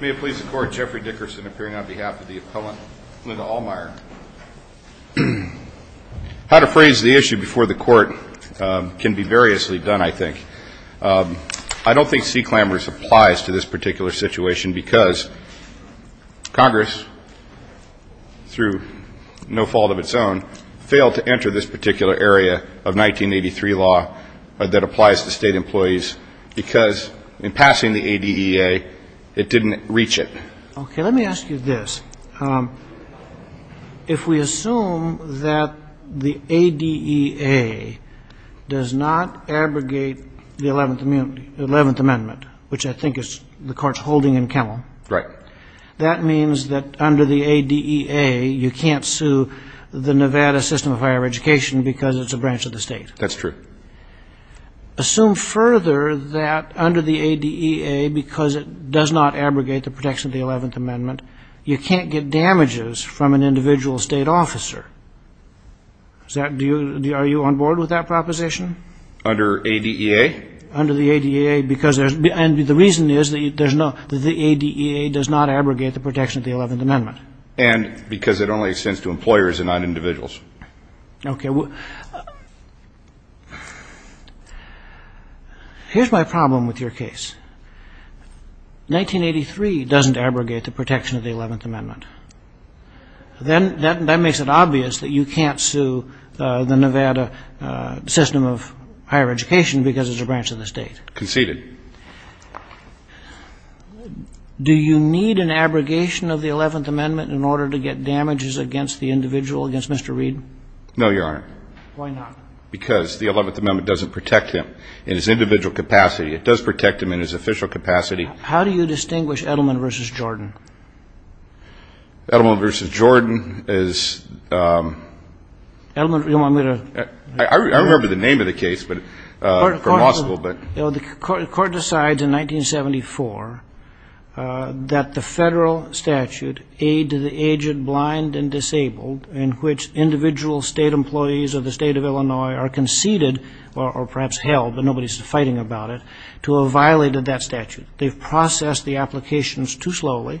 May it please the Court, Jeffrey Dickerson appearing on behalf of the Appellant Linda Ahlmeyer. How to phrase the issue before the Court can be variously done, I think. I don't think CCLAMRS applies to this particular situation because Congress, through no fault of its own, failed to enter this particular area of 1983 law that applies to state employees because, in passing the ADEA, it didn't reach it. Okay, let me ask you this. If we assume that the ADEA does not abrogate the 11th Amendment, which I think the Court's holding in Kemmel, that means that under the ADEA you can't sue the Nevada System of Higher Education because it's a branch of the state. That's true. Assume further that under the ADEA, because it does not abrogate the protection of the 11th Amendment, you can't get damages from an individual state officer. Are you on board with that proposition? Under ADEA? Under the ADEA, because there's no — and the reason is that there's no — the ADEA does not abrogate the protection of the 11th Amendment. And because it only extends to employers and not individuals. Okay. Here's my problem with your case. 1983 doesn't abrogate the protection of the 11th Amendment. That makes it obvious that you can't sue the Nevada System of Higher Education because it's a branch of the state. Conceded. Do you need an abrogation of the 11th Amendment in order to get damages against the individual, against Mr. Reed? No, Your Honor. Why not? Because the 11th Amendment doesn't protect him in his individual capacity. It does protect him in his official capacity. How do you distinguish Edelman v. Jordan? Edelman v. Jordan is — Edelman — I remember the name of the case, but — The court decides in 1974 that the federal statute, Aid to the Aged, Blind, and Disabled, in which individual state employees of the state of Illinois are conceded, or perhaps held, but nobody's fighting about it, to have violated that statute. They've processed the applications too slowly.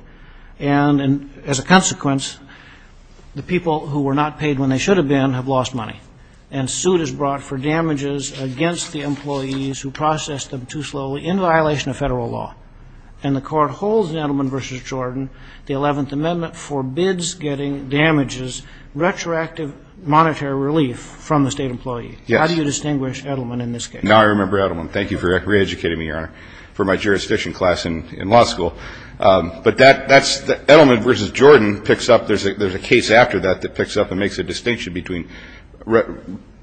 And as a consequence, the people who were not paid when they should have been have lost money. And suit is brought for damages against the employees who processed them too slowly in violation of federal law. And the court holds in Edelman v. Jordan the 11th Amendment forbids getting damages, retroactive monetary relief from the state employee. Yes. How do you distinguish Edelman in this case? Now I remember Edelman. Thank you for reeducating me, Your Honor, for my jurisdiction class in law school. But that's — Edelman v. Jordan picks up — there's a case after that that picks up and makes a distinction between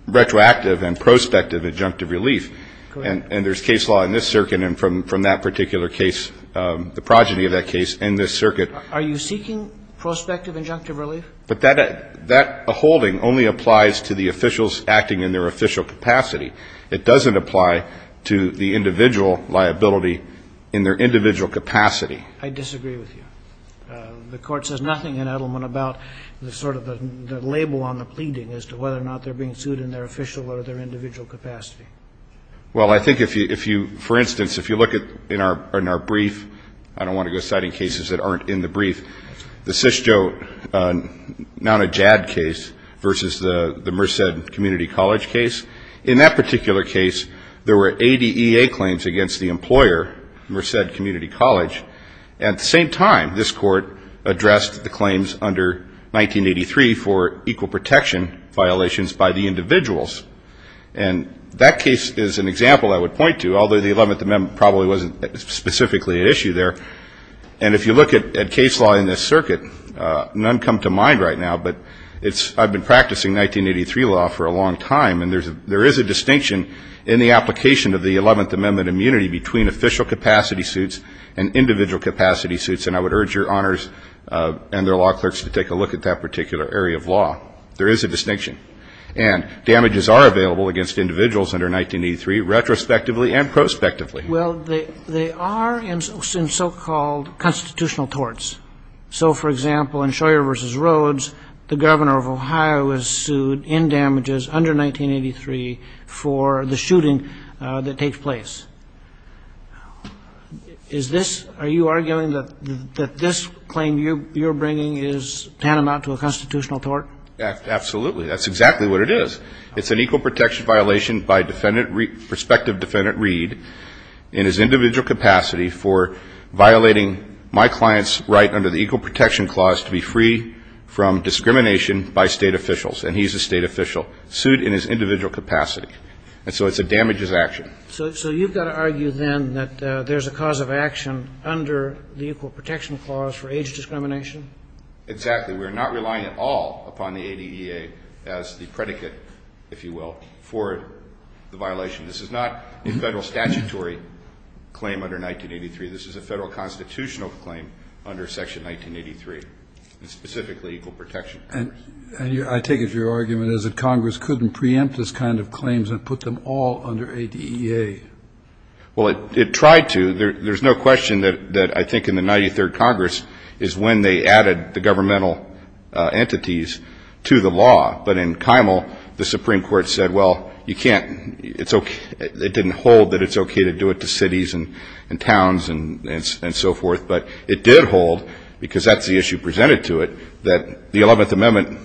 retroactive and prospective injunctive relief. Correct. And there's case law in this circuit and from that particular case, the progeny of that case in this circuit. Are you seeking prospective injunctive relief? But that holding only applies to the officials acting in their official capacity. It doesn't apply to the individual liability in their individual capacity. I disagree with you. The court says nothing in Edelman about the sort of the label on the pleading as to whether or not they're being sued in their official or their individual capacity. Well, I think if you — for instance, if you look in our brief — I don't want to go citing cases that aren't in the brief. The CISJO non-JAD case versus the Merced Community College case. In that particular case, there were ADA claims against the employer, Merced Community College. At the same time, this court addressed the claims under 1983 for equal protection violations by the individuals. And that case is an example I would point to, although the 11th Amendment probably wasn't specifically at issue there. And if you look at case law in this circuit, none come to mind right now. But it's — I've been practicing 1983 law for a long time, and there is a distinction in the application of the 11th Amendment immunity between official capacity suits and individual capacity suits. And I would urge your honors and their law clerks to take a look at that particular area of law. There is a distinction. And damages are available against individuals under 1983 retrospectively and prospectively. Well, they are in so-called constitutional torts. So, for example, in Scheuer v. Rhodes, the governor of Ohio was sued in damages under 1983 for the shooting that takes place. Is this — are you arguing that this claim you're bringing is tantamount to a constitutional tort? Absolutely. That's exactly what it is. It's an equal protection violation by Defendant — prospective Defendant Reed in his individual capacity for violating my client's right under the Equal Protection Clause to be free from discrimination by State officials. And he's a State official sued in his individual capacity. And so it's a damages action. So you've got to argue then that there's a cause of action under the Equal Protection Clause for age discrimination? Exactly. We're not relying at all upon the ADEA as the predicate, if you will, for the violation. This is not a Federal statutory claim under 1983. This is a Federal constitutional claim under Section 1983, specifically equal protection. And I take it your argument is that Congress couldn't preempt this kind of claims and put them all under ADEA. Well, it tried to. There's no question that I think in the 93rd Congress is when they added the governmental entities to the law. But in Kimel, the Supreme Court said, well, you can't — it didn't hold that it's okay to do it to cities and towns and so forth. But it did hold, because that's the issue presented to it, that the 11th Amendment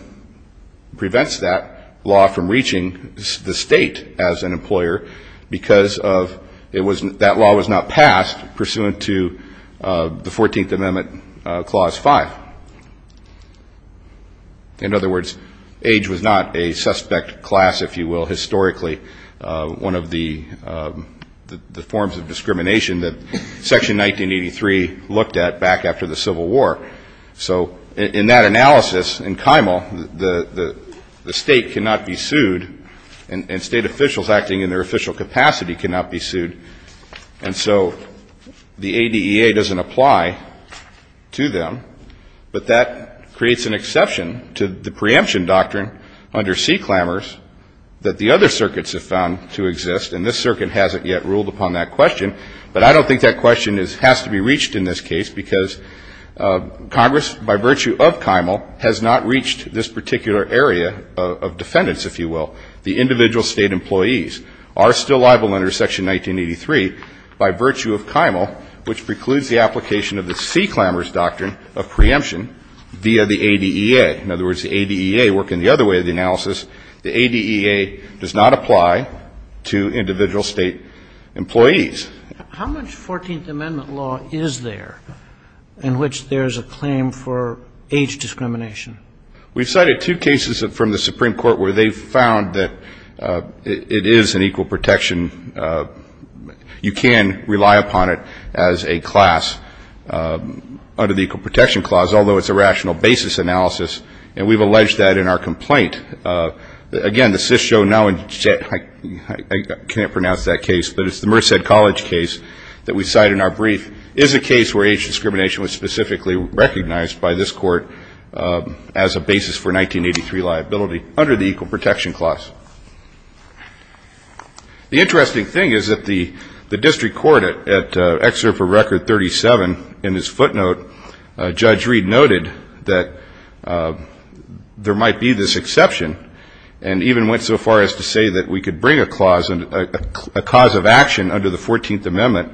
prevents that law from reaching the State as an employer because that law was not passed pursuant to the 14th Amendment Clause 5. In other words, age was not a suspect class, if you will, historically, one of the forms of discrimination that Section 1983 looked at back after the Civil War. So in that analysis, in Kimel, the State cannot be sued and State officials acting in their official capacity cannot be sued. And so the ADEA doesn't apply to them. But that creates an exception to the preemption doctrine under C. Clammers that the other circuits have found to exist. And this circuit hasn't yet ruled upon that question. But I don't think that question has to be reached in this case, because Congress, by virtue of Kimel, has not reached this particular area of defendants, if you will. The individual State employees are still liable under Section 1983 by virtue of Kimel, which precludes the application of the C. Clammers doctrine of preemption via the ADEA. In other words, the ADEA, working the other way of the analysis, the ADEA does not apply to individual State employees. How much Fourteenth Amendment law is there in which there is a claim for age discrimination? We've cited two cases from the Supreme Court where they found that it is an equal protection. You can rely upon it as a class under the Equal Protection Clause, although it's a rational basis analysis. And we've alleged that in our complaint. Again, the CIS show now, and I can't pronounce that case, but it's the Merced College case that we cite in our brief, is a case where age discrimination was specifically recognized by this court as a basis for 1983 liability, under the Equal Protection Clause. The interesting thing is that the district court, at Excerpt for Record 37, in his footnote, Judge Reed noted that there might be this exception, and even went so far as to say that we could bring a clause, a cause of action under the Fourteenth Amendment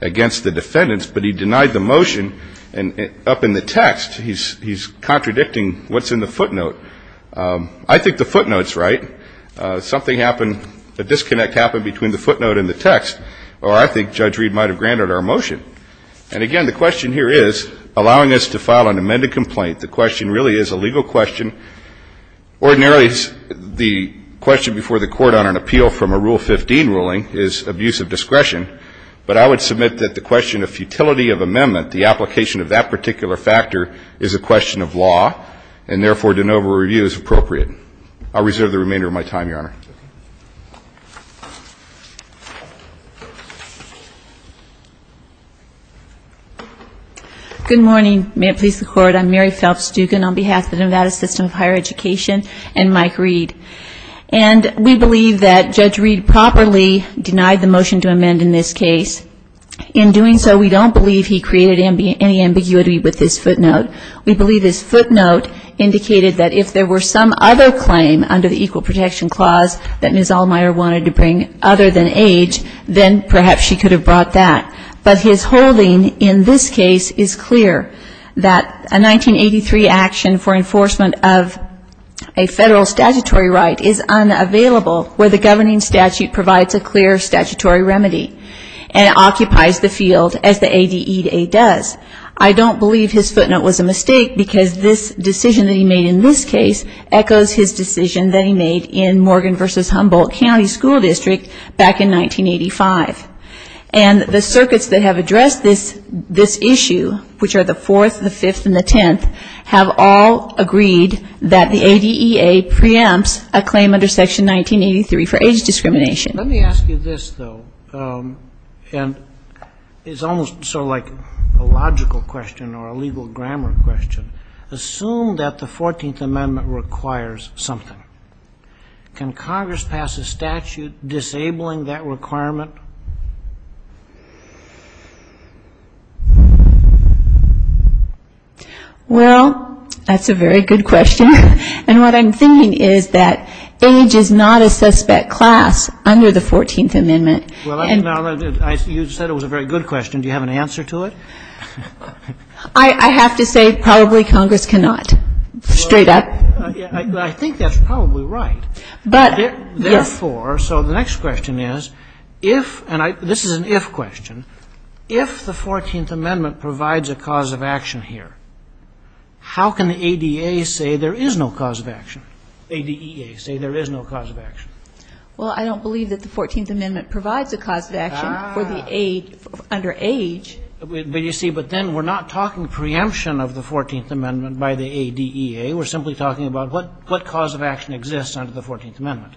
against the defendants, but he denied the motion up in the text. He's contradicting what's in the footnote. I think the footnote's right. Something happened, a disconnect happened between the footnote and the text, or I think Judge Reed might have granted our motion. And again, the question here is, allowing us to file an amended complaint, the question really is a legal question. Ordinarily, the question before the Court on an appeal from a Rule 15 ruling is abuse of discretion, but I would submit that the question of futility of amendment, the application of that particular factor, is a question of law, and therefore, de novo review is appropriate. I'll reserve the remainder of my time, Your Honor. Mary Phelps-Dugan Good morning. May it please the Court. I'm Mary Phelps-Dugan on behalf of the Nevada System of Higher Education and Mike Reed. And we believe that Judge Reed properly denied the motion to amend in this case. In doing so, we don't believe he created any ambiguity with this footnote. We believe this footnote indicated that if there were some other claim under the Protection Clause that Ms. Allmeyer wanted to bring other than age, then perhaps she could have brought that. But his holding in this case is clear, that a 1983 action for enforcement of a federal statutory right is unavailable where the governing statute provides a clear statutory remedy and occupies the field as the ADEA does. I don't believe his footnote was a mistake because this decision that he made in this case echoes his decision that he made in Morgan v. Humboldt County School District back in 1985. And the circuits that have addressed this issue, which are the Fourth, the Fifth, and the Tenth, have all agreed that the ADEA preempts a claim under Section 1983 for age discrimination. Let me ask you this, though. And it's almost sort of like a logical question or a legal grammar question. Assume that the 14th Amendment requires something. Can Congress pass a statute disabling that requirement? Well, that's a very good question. And what I'm thinking is that age is not a suspect class under the 14th Amendment. Well, you said it was a very good question. Do you have an answer to it? I have to say probably Congress cannot, straight up. I think that's probably right. But, yes. Therefore, so the next question is, if, and this is an if question, if the 14th Amendment provides a cause of action here, how can the ADEA say there is no cause of action? ADEA say there is no cause of action. Well, I don't believe that the 14th Amendment provides a cause of action for the age, under age. But you see, but then we're not talking preemption of the 14th Amendment by the ADEA. We're simply talking about what cause of action exists under the 14th Amendment.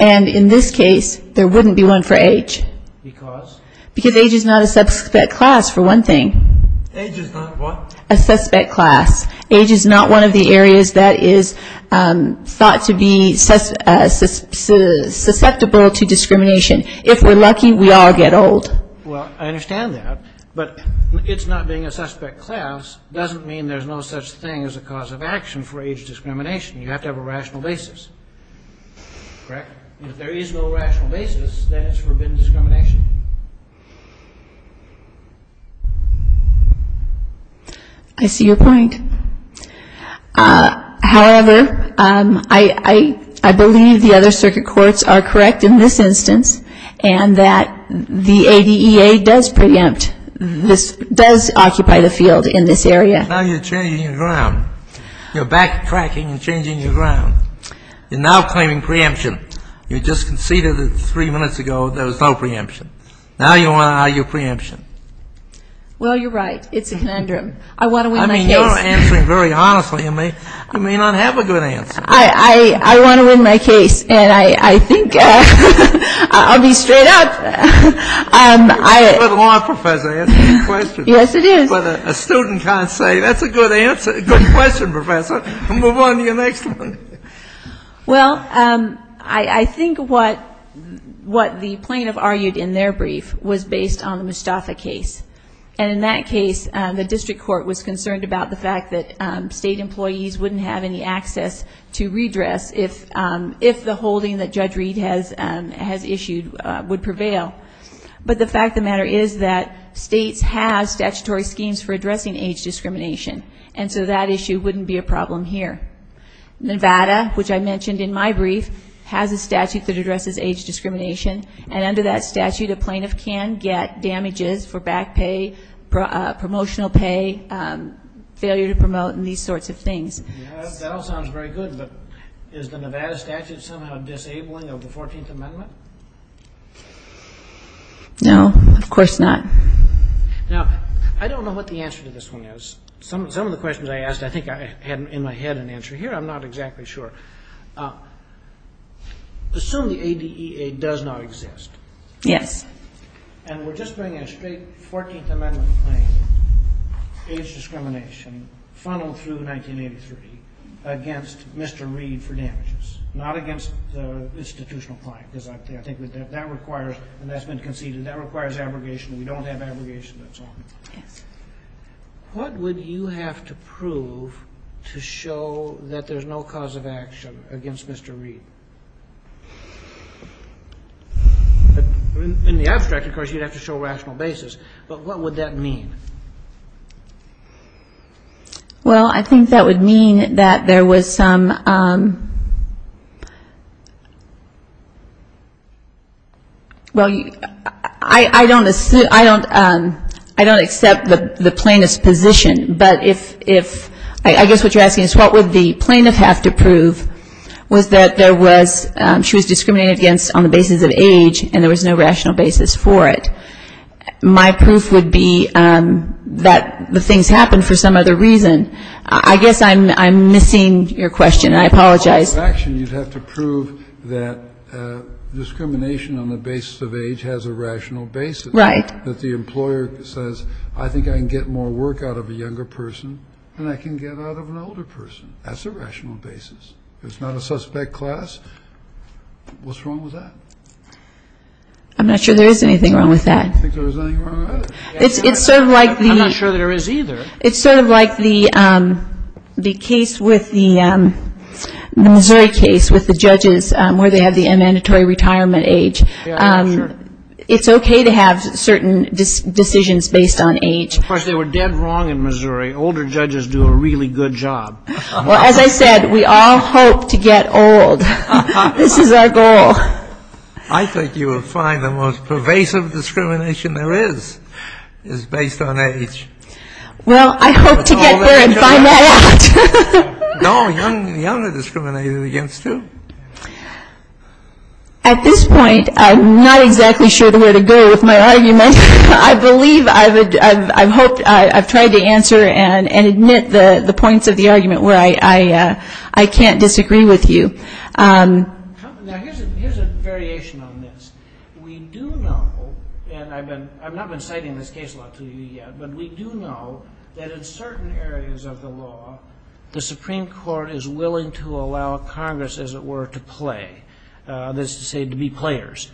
And in this case, there wouldn't be one for age. Because? Because age is not a suspect class, for one thing. Age is not what? A suspect class. Age is not one of the areas that is thought to be susceptible to discrimination. If we're lucky, we all get old. Well, I understand that. But it's not being a suspect class doesn't mean there's no such thing as a cause of action for age discrimination. You have to have a rational basis. Correct? If there is no rational basis, then it's forbidden discrimination. I see your point. However, I believe the other circuit courts are correct in this instance and that the ADEA does preempt, does occupy the field in this area. Now you're changing your ground. You're backtracking and changing your ground. You're now claiming preemption. You just conceded that three minutes ago there was no preemption. Now you want to argue preemption. Well, you're right. It's a conundrum. I want to win my case. I mean, you're answering very honestly. You may not have a good answer. I want to win my case. And I think I'll be straight up. You have a good line, Professor. That's a good question. Yes, it is. But a student can't say that's a good question, Professor. Move on to your next one. Well, I think what the plaintiff argued in their brief was based on the Mostafa case. And in that case, the district court was concerned about the fact that state employees wouldn't have any access to redress if the holding that Judge Reed has issued would prevail. But the fact of the matter is that states have statutory schemes for addressing age discrimination. And so that issue wouldn't be a problem here. Nevada, which I mentioned in my brief, has a statute that addresses age discrimination. And under that statute, a plaintiff can get damages for back pay, promotional pay, failure to promote, and these sorts of things. That all sounds very good, but is the Nevada statute somehow disabling of the 14th Amendment? No, of course not. Now, I don't know what the answer to this one is. Some of the questions I asked, I think I had in my head an answer here. I'm not exactly sure. Assume the ADEA does not exist. Yes. And we're just bringing a straight 14th Amendment claim, age discrimination, funneled through 1983, against Mr. Reed for damages, not against the institutional client, because I think that requires, and that's been conceded, that requires abrogation. We don't have abrogation. That's all. Yes. What would you have to prove to show that there's no cause of action against Mr. Reed? In the abstract, of course, you'd have to show rational basis. But what would that mean? Well, I think that would mean that there was some, well, I don't accept the plaintiff's position, but if, I guess what you're asking is what would the plaintiff have to prove was that there was, she was discriminated against on the basis of age and there was no rational basis for it. My proof would be that the things happened for some other reason. I guess I'm missing your question. I apologize. Cause of action, you'd have to prove that discrimination on the basis of age has a rational basis. Right. That the employer says, I think I can get more work out of a younger person than I can get out of an older person. That's a rational basis. If it's not a suspect class, what's wrong with that? I'm not sure there is anything wrong with that. I don't think there's anything wrong with that. It's sort of like the. I'm not sure there is either. It's sort of like the case with the Missouri case with the judges where they have the mandatory retirement age. Yeah, sure. It's okay to have certain decisions based on age. Of course, they were dead wrong in Missouri. Older judges do a really good job. Well, as I said, we all hope to get old. This is our goal. I think you will find the most pervasive discrimination there is is based on age. Well, I hope to get there and find that out. No, young are discriminated against too. At this point, I'm not exactly sure where to go with my argument. I believe I've tried to answer and admit the points of the argument where I can't disagree with you. Now, here's a variation on this. We do know, and I've not been citing this case law to you yet, but we do know that in certain areas of the law, the Supreme Court is willing to allow Congress, as it were, to play, that is to say, to be players.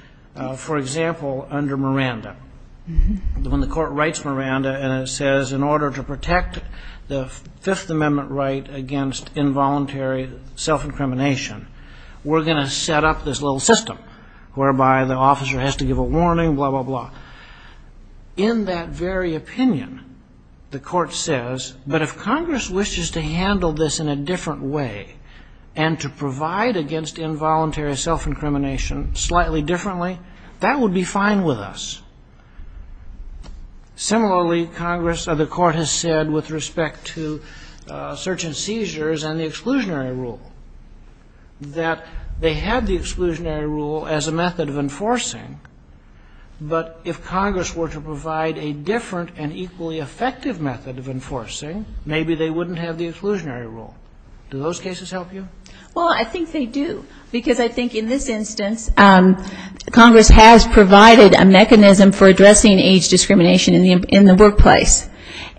For example, under Miranda, when the court writes Miranda and it says, in order to protect the Fifth Amendment right against involuntary self-incrimination, we're going to set up this little system whereby the officer has to give a warning, blah, blah, blah. In that very opinion, the court says, but if Congress wishes to handle this in a different way and to provide against involuntary self-incrimination slightly differently, that would be fine with us. Similarly, the court has said with respect to search and seizures and the exclusionary rule that they had the exclusionary rule as a method of enforcing, but if Congress were to provide a different and equally effective method of enforcing, maybe they wouldn't have the exclusionary rule. Do those cases help you? Well, I think they do, because I think in this instance, Congress has provided a mechanism for addressing age discrimination in the workplace,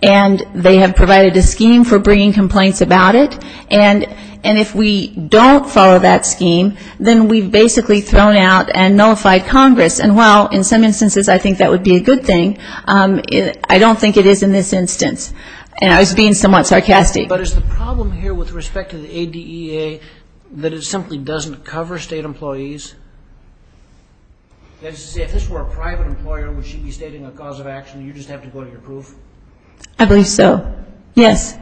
and they have provided a scheme for bringing complaints about it, and if we don't follow that scheme, then we've basically thrown out and nullified Congress, and while in some instances I think that would be a good thing, I don't think it is in this instance. I was being somewhat sarcastic. But is the problem here with respect to the ADEA that it simply doesn't cover state employees? That is to say, if this were a private employer, would she be stating a cause of action and you just have to go to your proof? I believe so. Yes.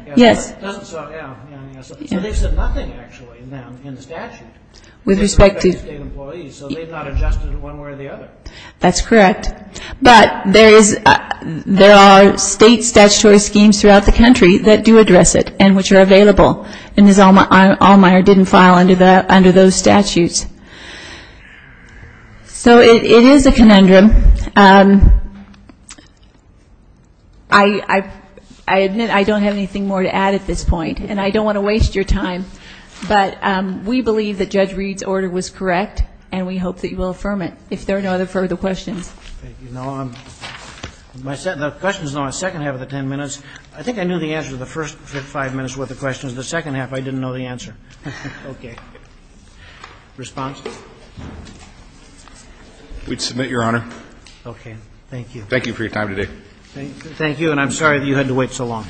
So they've said nothing, actually, in the statute with respect to state employees, so they've not adjusted it one way or the other. That's correct. But there are state statutory schemes throughout the country that do address it and which are available, and Ms. Allmeyer didn't file under those statutes. So it is a conundrum. I admit I don't have anything more to add at this point, and I don't want to waste your time, but we believe that Judge Reed's order was correct, and we hope that you will affirm it, if there are no other further questions. Thank you. Now, the questions in the second half of the ten minutes, I think I knew the answer to the first five minutes with the questions. The second half, I didn't know the answer. Okay. Response? We'd submit, Your Honor. Okay. Thank you. Thank you for your time today. Thank you, and I'm sorry that you had to wait so long.